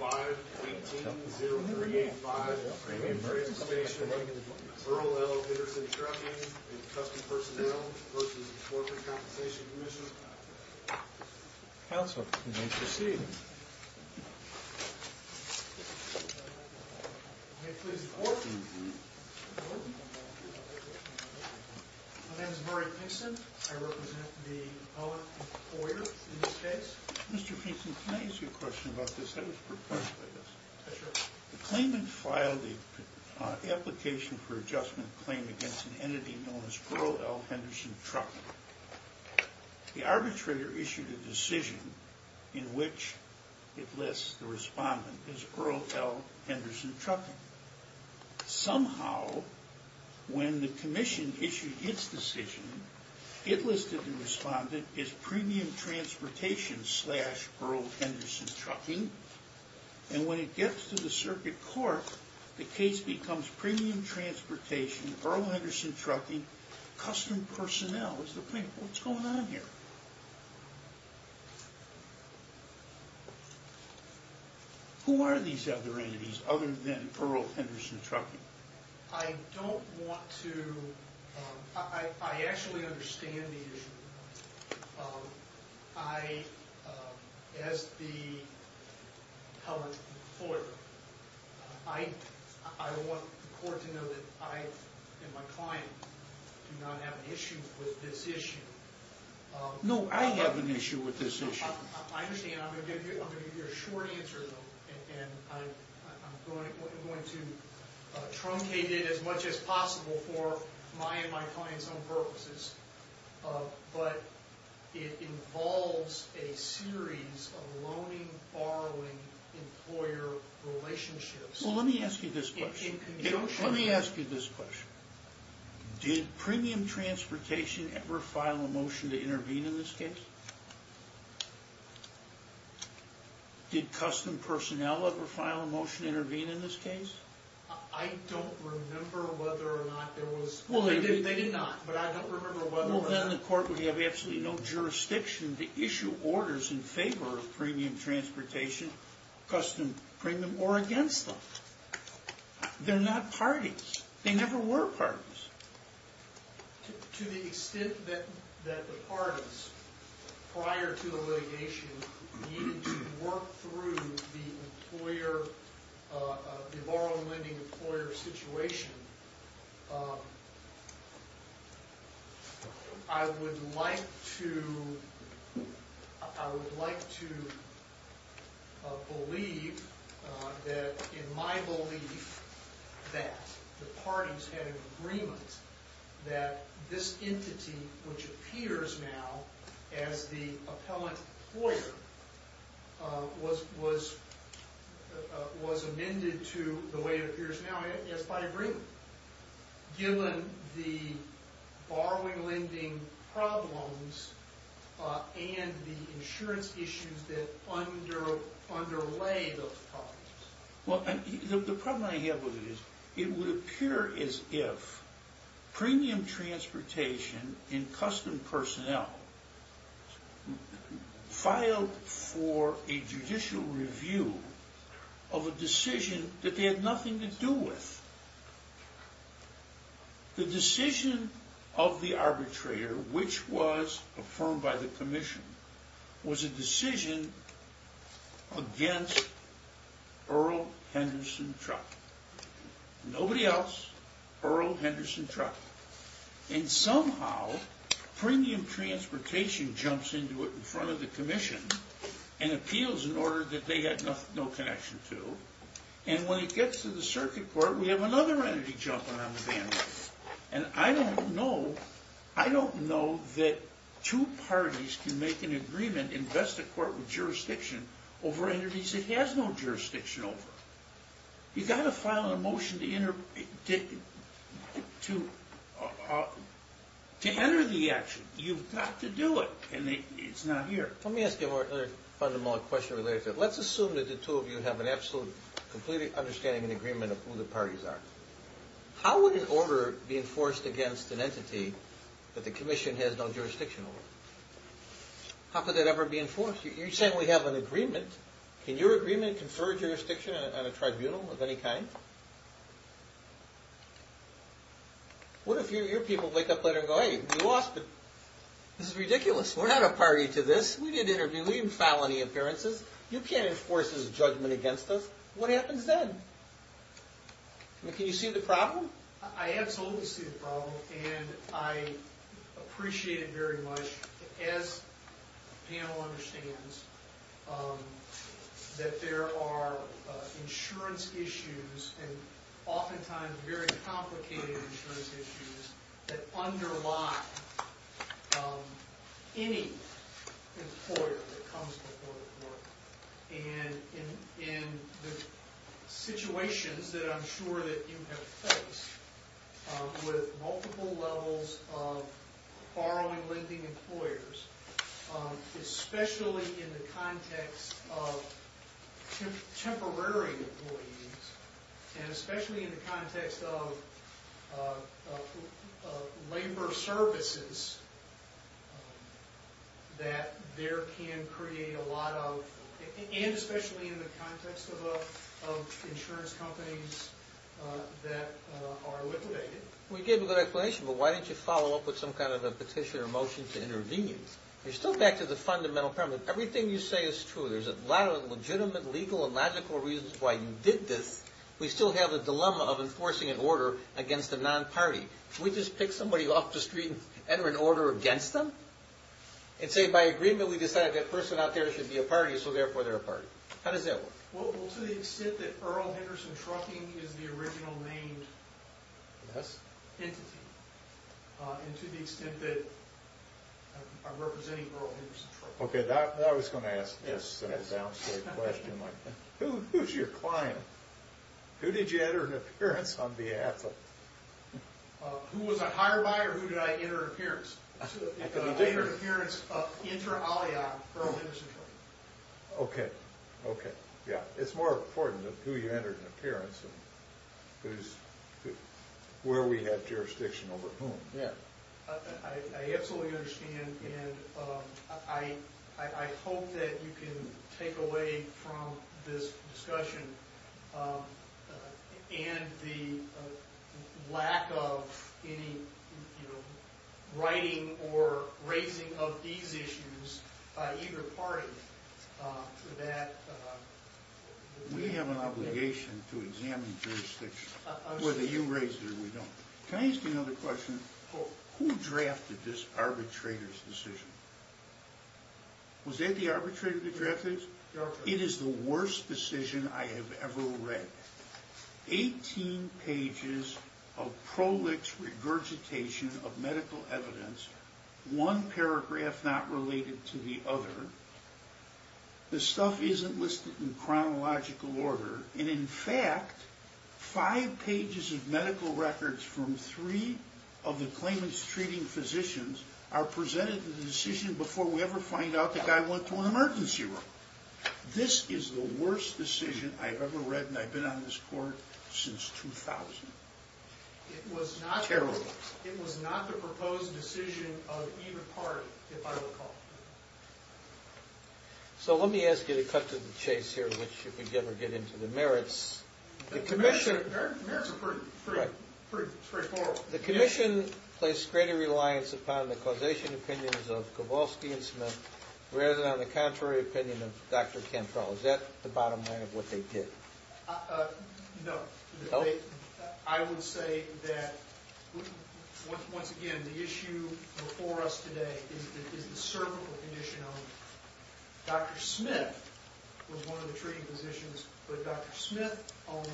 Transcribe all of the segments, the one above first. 5-18-0385, Crane Station, Earl L. Peterson Trucking and Custom Personnel v. The Workers' Compensation Commission Counsel, you may proceed May I please report? My name is Murray Pinkston. I represent the public employer in this case Mr. Pinkston, can I ask you a question about this? The claimant filed an application for adjustment claim against an entity known as Earl L. Henderson Trucking The arbitrator issued a decision in which it lists the respondent as Earl L. Henderson Trucking Somehow, when the commission issued its decision, it listed the respondent as Premium Transportation slash Earl Henderson Trucking And when it gets to the circuit court, the case becomes Premium Transportation, Earl Henderson Trucking, Custom Personnel What's the point? What's going on here? Who are these other entities other than Earl Henderson Trucking? I actually understand the issue. As the public employer, I want the court to know that I and my client do not have an issue with this issue No, I have an issue with this issue I understand. I'm going to give you a short answer, and I'm going to truncate it as much as possible for my and my client's own purposes But it involves a series of loaning-borrowing employer relationships Well, let me ask you this question. Did Premium Transportation ever file a motion to intervene in this case? Did Custom Personnel ever file a motion to intervene in this case? I don't remember whether or not there was Well, they did not, but I don't remember whether or not They're not parties. They never were parties I believe that the parties had an agreement that this entity, which appears now as the appellant employer, was amended to the way it appears now as by agreement Given the borrowing-lending problems and the insurance issues that underlay those problems The problem I have with it is, it would appear as if Premium Transportation and Custom Personnel filed for a judicial review of a decision that they had nothing to do with The decision of the arbitrator, which was affirmed by the Commission, was a decision against Earl Henderson Truck Nobody else, Earl Henderson Truck And somehow, Premium Transportation jumps into it in front of the Commission and appeals an order that they had no connection to And when it gets to the Circuit Court, we have another entity jumping on the bandwagon And I don't know that two parties can make an agreement, invest a court with jurisdiction over entities it has no jurisdiction over You've got to file a motion to enter the action. You've got to do it, and it's not here Let's assume that the two of you have an absolute understanding and agreement of who the parties are How would an order be enforced against an entity that the Commission has no jurisdiction over? How could that ever be enforced? You're saying we have an agreement. Can your agreement confer jurisdiction on a tribunal of any kind? What if your people wake up later and go, hey, we lost, but this is ridiculous, we're not a party to this We didn't interview, we didn't file any appearances, you can't enforce this judgment against us What happens then? Can you see the problem? I absolutely see the problem, and I appreciate it very much As the panel understands, that there are insurance issues, and oftentimes very complicated insurance issues That underlie any employer that comes before the court And in the situations that I'm sure that you have faced with multiple levels of borrowing lending employers Especially in the context of temporary employees And especially in the context of labor services That there can create a lot of, and especially in the context of insurance companies that are liquidated We gave a good explanation, but why didn't you follow up with some kind of a petition or motion to intervene? You're still back to the fundamental premise. Everything you say is true There's a lot of legitimate, legal, and logical reasons why you did this We still have a dilemma of enforcing an order against a non-party Can we just pick somebody off the street and enter an order against them? And say by agreement we decided that person out there should be a party, so therefore they're a party How does that work? Well, to the extent that Earl Henderson Trucking is the original named entity And to the extent that I'm representing Earl Henderson Trucking Okay, now I was going to ask a down-state question. Who's your client? Who did you enter an appearance on behalf of? Who was I hired by or who did I enter an appearance? I entered an appearance of Inter-Aliac Earl Henderson Trucking Okay, okay, yeah. It's more important who you entered an appearance of Where we had jurisdiction over whom I absolutely understand and I hope that you can take away from this discussion And the lack of any writing or raising of these issues by either party We have an obligation to examine jurisdiction Whether you raise it or we don't Can I ask you another question? Who drafted this arbitrator's decision? Was it the arbitrator that drafted it? It is the worst decision I have ever read Eighteen pages of prolix regurgitation of medical evidence One paragraph not related to the other The stuff isn't listed in chronological order And in fact, five pages of medical records From three of the claimant's treating physicians Are presented to the decision before we ever find out The guy went to an emergency room This is the worst decision I have ever read And I've been on this court since 2000 It was not the proposed decision of either party, if I recall So let me ask you to cut to the chase here Which, if we ever get into the merits The merits are pretty straightforward The commission placed greater reliance upon the causation opinions of Kowalski and Smith Rather than on the contrary opinion of Dr. Cantrell Is that the bottom line of what they did? No I would say that, once again, the issue before us today Is the cervical condition Dr. Smith was one of the treating physicians But Dr. Smith only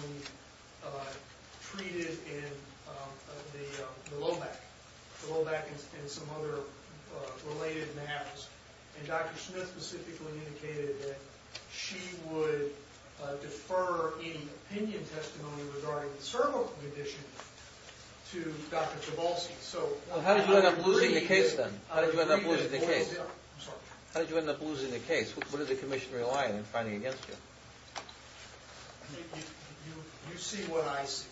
treated in the low back The low back and some other related maps And Dr. Smith specifically indicated that She would defer any opinion testimony regarding the cervical condition To Dr. Kowalski How did you end up losing the case then? How did you end up losing the case? What did the commission rely on in fighting against you? You see what I see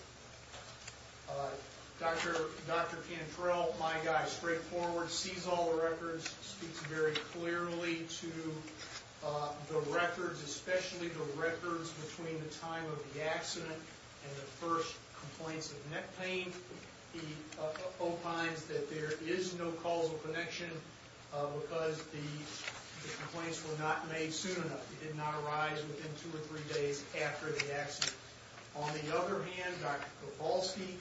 Dr. Cantrell, my guy, straightforward Sees all the records Speaks very clearly to the records Especially the records between the time of the accident And the first complaints of neck pain He opines that there is no causal connection Because the complaints were not made soon enough It did not arise within two or three days after the accident On the other hand, Dr. Kowalski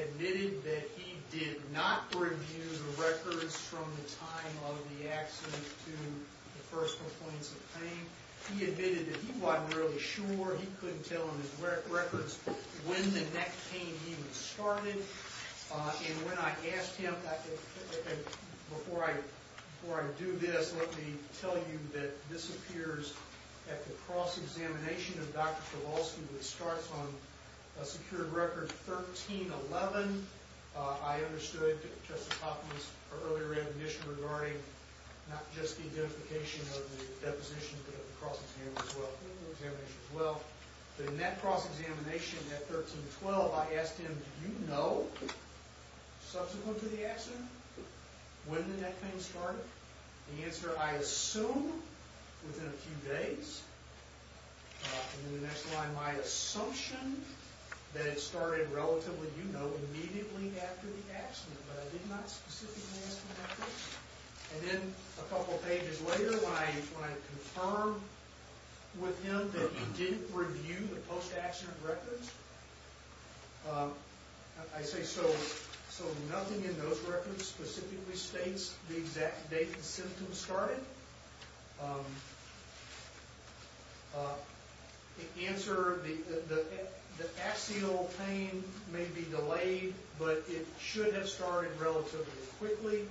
Admitted that he did not review the records From the time of the accident to the first complaints of pain He admitted that he wasn't really sure He couldn't tell on his records When the neck pain even started And when I asked him Before I do this Let me tell you that this appears At the cross-examination of Dr. Kowalski Which starts on a secured record 1311 I understood Justice Hopkins' earlier admission Regarding not just the identification of the deposition But the cross-examination as well In that cross-examination at 1312 I asked him, do you know Subsequent to the accident When the neck pain started The answer, I assume Within a few days In the next line My assumption That it started relatively, you know Immediately after the accident But I did not specifically ask him that question And then a couple pages later When I confirmed with him That he didn't review the post-accident records I say, so nothing in those records Specifically states the exact date the symptoms started The answer, the axial pain may be delayed But it should have started relatively quickly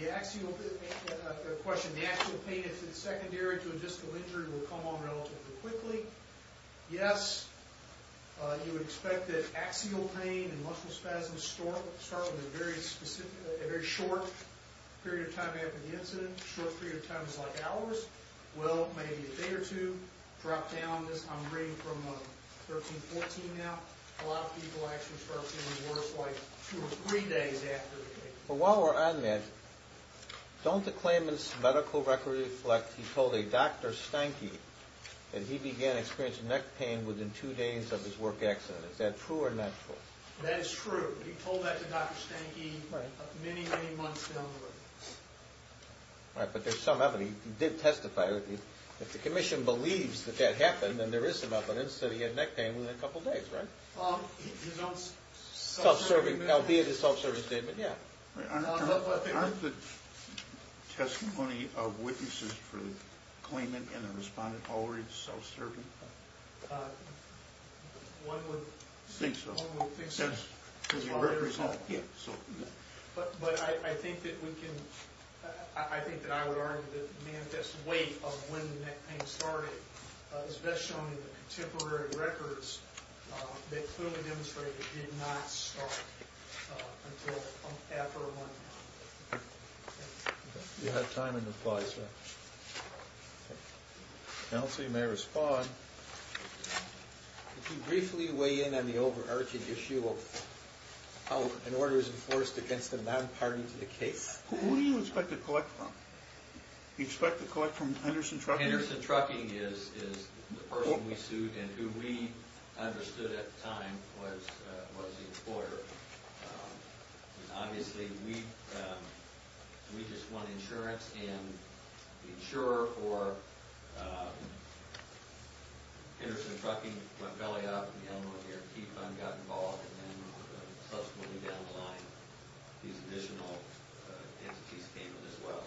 The axial pain, I've got a question The axial pain, if it's secondary to a distal injury Will come on relatively quickly Yes, you would expect that axial pain And muscle spasms start with a very specific A very short period of time after the incident A short period of time is like hours Well, maybe a day or two Drop down, I'm reading from 1314 now A lot of people actually start feeling worse Like two or three days after the case But while we're on that Don't the claimant's medical record reflect He told a Dr. Stanky That he began experiencing neck pain Within two days of his work accident Is that true or not true? That is true He told that to Dr. Stanky Many, many months down the road Right, but there's some evidence He did testify If the commission believes that that happened Then there is some evidence That he had neck pain within a couple days, right? Self-serving, albeit a self-serving statement, yeah Aren't the testimony of witnesses For the claimant and the respondent Already self-serving? One would think so But I think that we can I think that I would argue that The manifest weight of when neck pain started Is best shown in the contemporary records That clearly demonstrate it did not start Until after one You have time and apply, sir Counsel, you may respond Could you briefly weigh in On the overarching issue of How an order is enforced Against a non-party to the case? Who do you expect to collect from? Do you expect to collect from Henderson Trucking? Henderson Trucking is The person we sued And who we understood at the time Was the employer Obviously, we We just want insurance And the insurer for Henderson Trucking went belly up The Illinois A.R.T. Fund got involved And then subsequently down the line These additional entities came in as well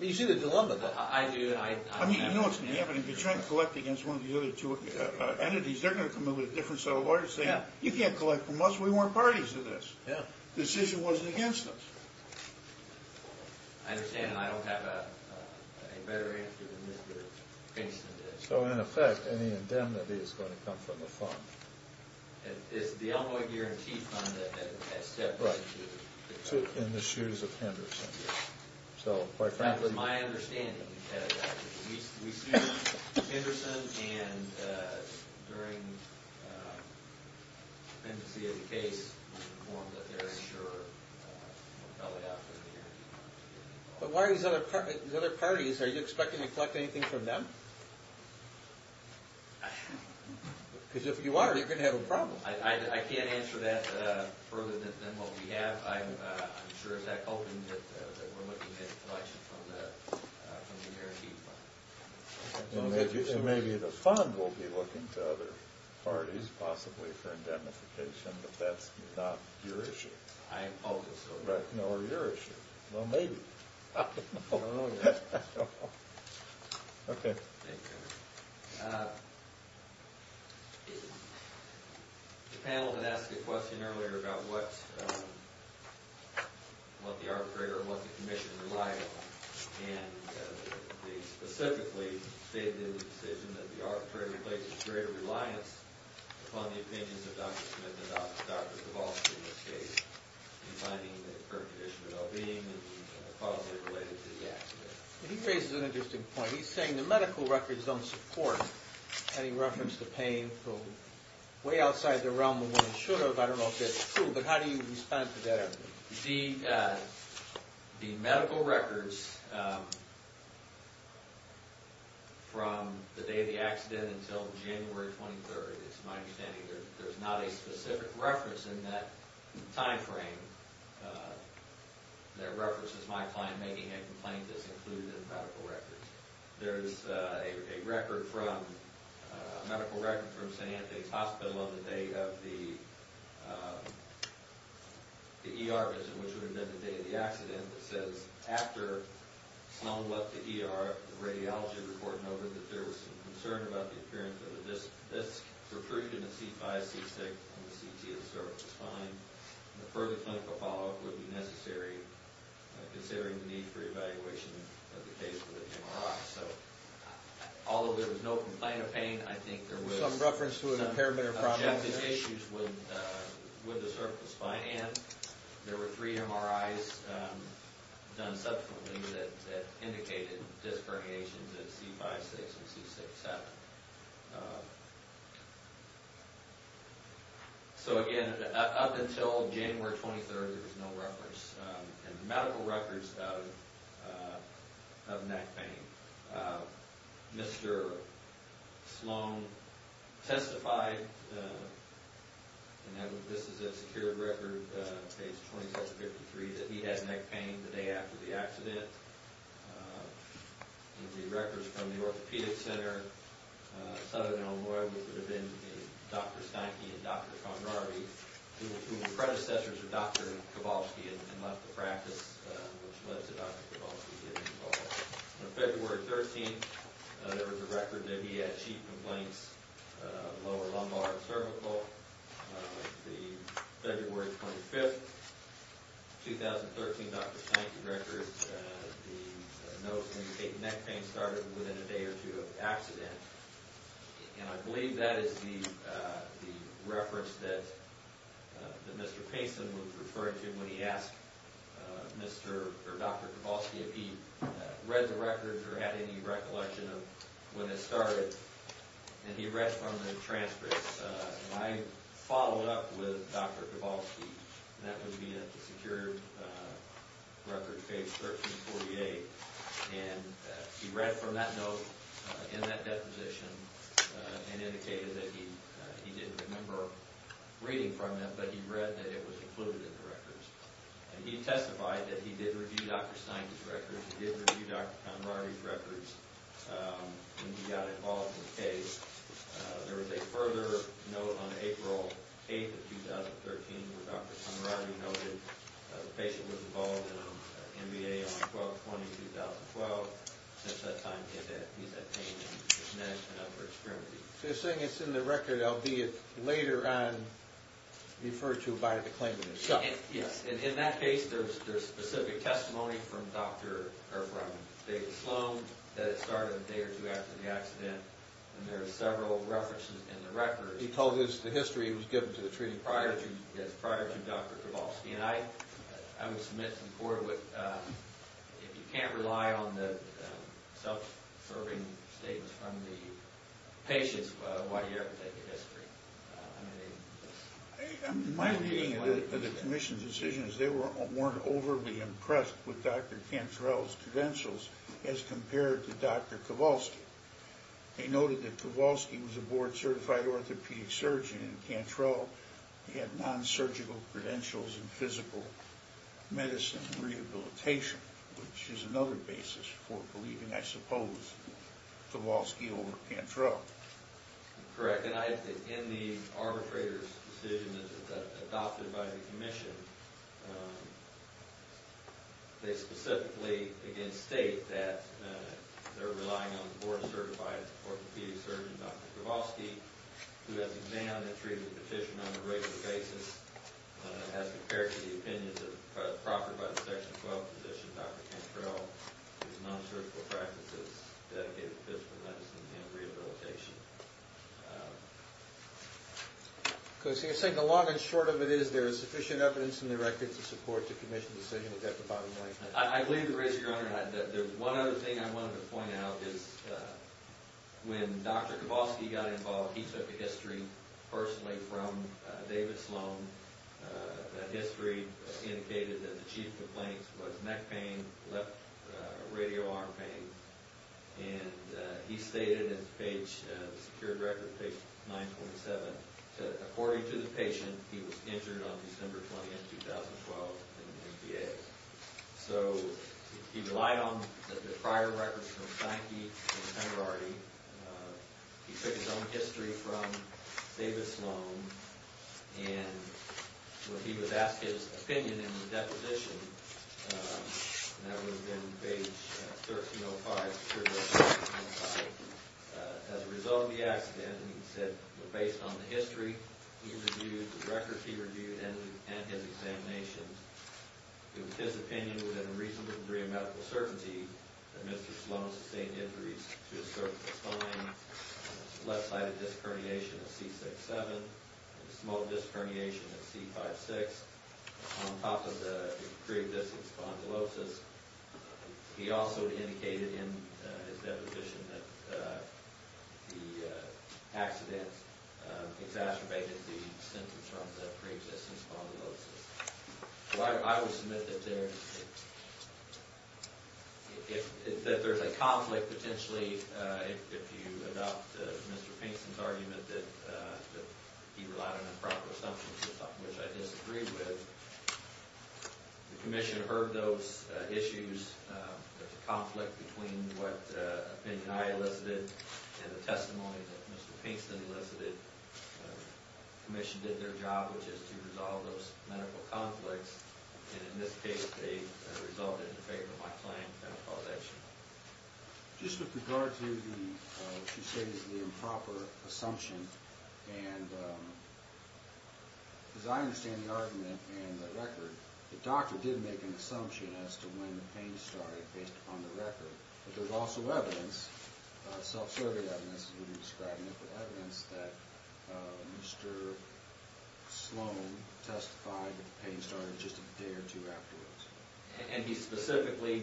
You see the dilemma You know what's going to happen If you try and collect against One of the other two entities They're going to come in With a different set of orders Saying you can't collect from us We weren't parties to this This issue wasn't against us I understand And I don't have a better answer Than Mr. Princeton did So in effect Any indemnity is going to come from the fund It's the Illinois A.R.T. Fund That stepped up to In the shoes of Henderson That's my understanding We sued Henderson And during The pendency of the case We informed that the insurer Went belly up But why are these other parties Are you expecting to collect anything from them? Because if you are You're going to have a problem I can't answer that Further than what we have I'm sure it's that open That we're looking at collection From the A.R.T. Fund And maybe the fund Will be looking to other parties Possibly for indemnification But that's not your issue I'm hopeful so Right, nor your issue Well maybe I don't know yet Okay The panel had asked a question earlier About what What the arbitrator Or what the commission relied on And they specifically Stated in the decision That the arbitrator Places greater reliance Upon the opinions of Dr. Smith And Dr. DeVos in this case In finding the current condition of well-being And a policy related to the accident He raises an interesting point He's saying the medical records don't support Any reference to pain From way outside the realm I don't know if that's true But how do you respond to that? The medical records From the day of the accident Until January 23rd It's my understanding There's not a specific reference In that time frame That references my client Making a complaint That's included in the medical records There's a record from A medical record from St. Anthony's Hospital On the day of the The ER visit Which would have been the day of the accident That says After Sloan left the ER The radiology report noted That there was some concern About the appearance of a disc Recruited in a C5 C6 And the CT of the cervical spine And a further clinical follow-up Would be necessary Considering the need for evaluation Of the case with Jim Ross So although there was no complaint of pain I think there was Some reference to impairment Objective issues With the cervical spine And there were three MRIs Done subsequently That indicated disc herniations In C5 C6 and C7 So again Up until January 23rd There was no reference In the medical records Of neck pain Mr. Sloan testified And this is a secured record Page 2753 That he had neck pain The day after the accident And the records from the orthopedic center Southern Illinois Which would have been Dr. Steinke and Dr. Conrarty Who were predecessors of Dr. Kowalski And left the practice Which led to Dr. Kowalski getting involved On February 13th There was a record That he had sheet complaints Lower lumbar and cervical On February 25th 2013 Dr. Steinke records The notes indicate Neck pain started Within a day or two of the accident And I believe that is the Reference that Mr. Payson was referring to When he asked Dr. Kowalski If he read the records Or had any recollection Of when it started And he read from the transcripts And I followed up With Dr. Kowalski And that would be The secured record Page 1348 And he read from that note In that deposition And indicated that he Didn't remember reading from it But he read that it was included In the records And he testified That he did review Dr. Steinke's records He did review Dr. Conradi's records When he got involved in the case There was a further note On April 8th of 2013 Where Dr. Conradi noted The patient was involved In an MBA on 12-20-2012 Since that time He's had pain In his neck and upper extremity So you're saying It's in the record Albeit later on Referred to by the claimant Yes In that case There's specific testimony From David Sloan That it started a day or two After the accident And there's several references In the record He told us the history He was given to the treaty Prior to Dr. Kowalski And I would submit To the court If you can't rely on The self-serving statements From the patients Why do you ever take a history? I mean My reading of the commission's decision Is they weren't overly impressed With Dr. Cantrell's credentials As compared to Dr. Kowalski They noted that Kowalski Was a board certified orthopedic surgeon And Cantrell Had non-surgical credentials In physical medicine rehabilitation Which is another basis For believing, I suppose Kowalski over Cantrell Correct And I think In the arbitrator's decision Adopted by the commission They specifically, again, state That they're relying on The board certified orthopedic surgeon Dr. Kowalski Who has examined and treated the patient On a regular basis As compared to the opinions Proffered by the section 12 physician Dr. Cantrell Whose non-surgical practices Dedicated to physical medicine And rehabilitation Because you're saying The long and short of it is There is sufficient evidence In the record to support The commission's decision Is that the bottom line? I believe, Your Honor There's one other thing I wanted to point out Is when Dr. Kowalski Got involved He took a history Personally from David Sloan That history indicated That the chief complaint Was neck pain Left radio arm pain And he stated In the page The secured record Page 927 That according to the patient He was injured On December 20, 2012 In the NDA So he relied on The prior records From Sankey and Penrarty He took his own history From David Sloan And when he was asked His opinion in the deposition That would have been Page 1305 As a result of the accident He said Based on the history He reviewed The records he reviewed And his examinations It was his opinion Within a reasonable degree Of medical certainty That Mr. Sloan sustained injuries To his cervical spine Left-sided disc herniation At C6-7 And small disc herniation At C5-6 On top of the Pre-existing spondylosis He also indicated In his deposition That the accident Exacerbated the symptoms From the pre-existing spondylosis I would submit That there's That there's a conflict Potentially If you adopt Mr. Pinkston's argument That he relied on Improper assumptions Which I disagree with The commission heard Those issues There's a conflict Between what Opinion I elicited And the testimony That Mr. Pinkston elicited The commission did their job Which is to resolve Those medical conflicts And in this case They resulted In favor of my plan That I called action Just with regard to What you say is The improper assumption And As I understand The argument And the record The doctor did make An assumption As to when the pain started Based upon the record But there's also evidence Self-survey evidence As we've been describing it But evidence that Mr. Sloan Testified that the pain started Just a day or two afterwards And he specifically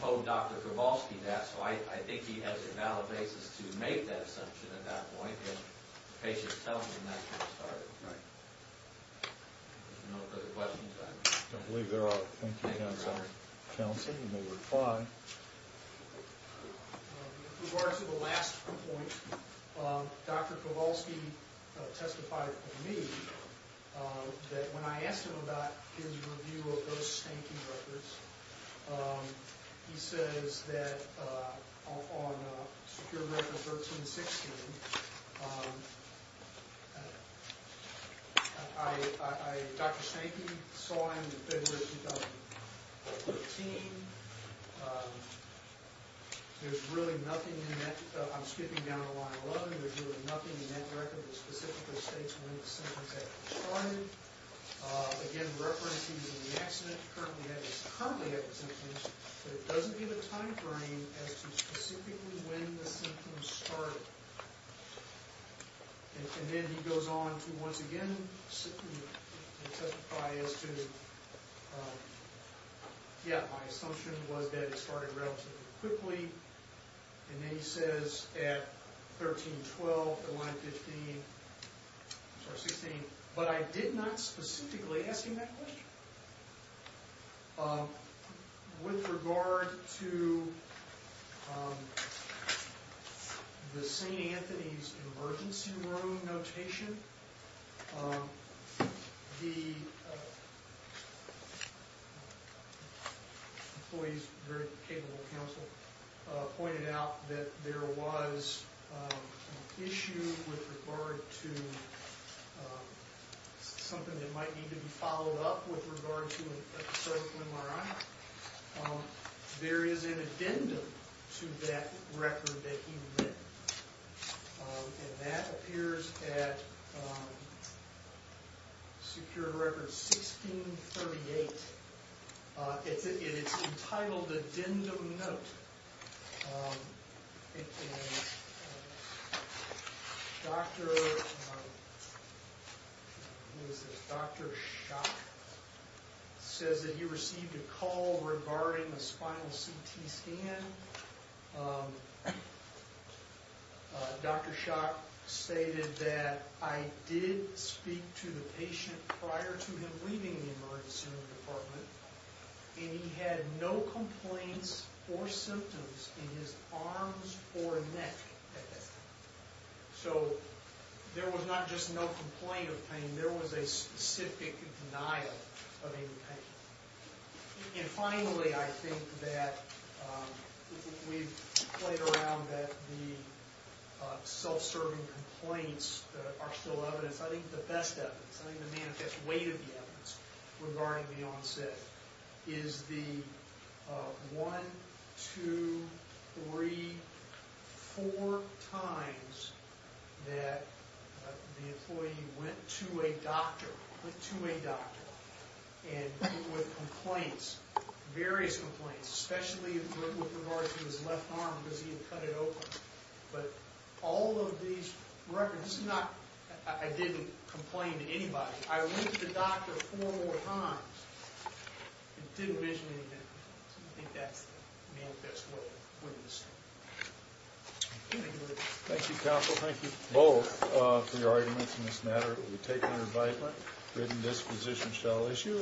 Told Dr. Kowalski that So I think he has a valid basis To make that assumption At that point If the patient's telling him That pain started Right No further questions? I believe there are Thank you, counsel Counsel, you may reply With regard to the last point Dr. Kowalski Testified to me That when I asked him about His review of those stinking records He says that On secure record 1316 Dr. Stanky saw him February 2015 There's really nothing in that I'm skipping down to line 11 There's really nothing in that record That specifically states When the symptoms had started Again, references in the accident Currently have the symptoms But it doesn't give a time frame As to specifically When the symptoms started And then he goes on To once again Testify as to Yeah, my assumption was that It started relatively quickly And then he says At 1312, line 15 Sorry, 16 But I did not specifically Ask him that question With regard to The St. Anthony's Emergency room notation The Employees, very capable counsel Pointed out that there was An issue with regard to Something that might need to be followed up With regard to a critical MRI There is an addendum To that record that he read And that appears at Secured record 1638 And it's entitled Addendum Note Dr. Schock Says that he received a call Regarding a spinal CT scan And Dr. Schock Stated that I did speak to the patient Prior to him leaving the emergency room department And he had no complaints Or symptoms In his arms or neck So There was not just no complaint of pain There was a specific denial Of any pain And finally, I think that We've played around that The Self-serving complaints Are still evidence I think the best evidence I think the manifest weight of the evidence Regarding the onset Is the One Two Three Four times That The employee went to a doctor Went to a doctor And with complaints Various complaints Especially with regards to his left arm Because he had cut it open But All of these Records This is not I didn't Complain to anybody I went to the doctor Four more times And didn't visually Any pain So I think that's The manifest weight Of the evidence Thank you counsel Thank you both For your arguments In this matter We take your invite Written disposition shall issue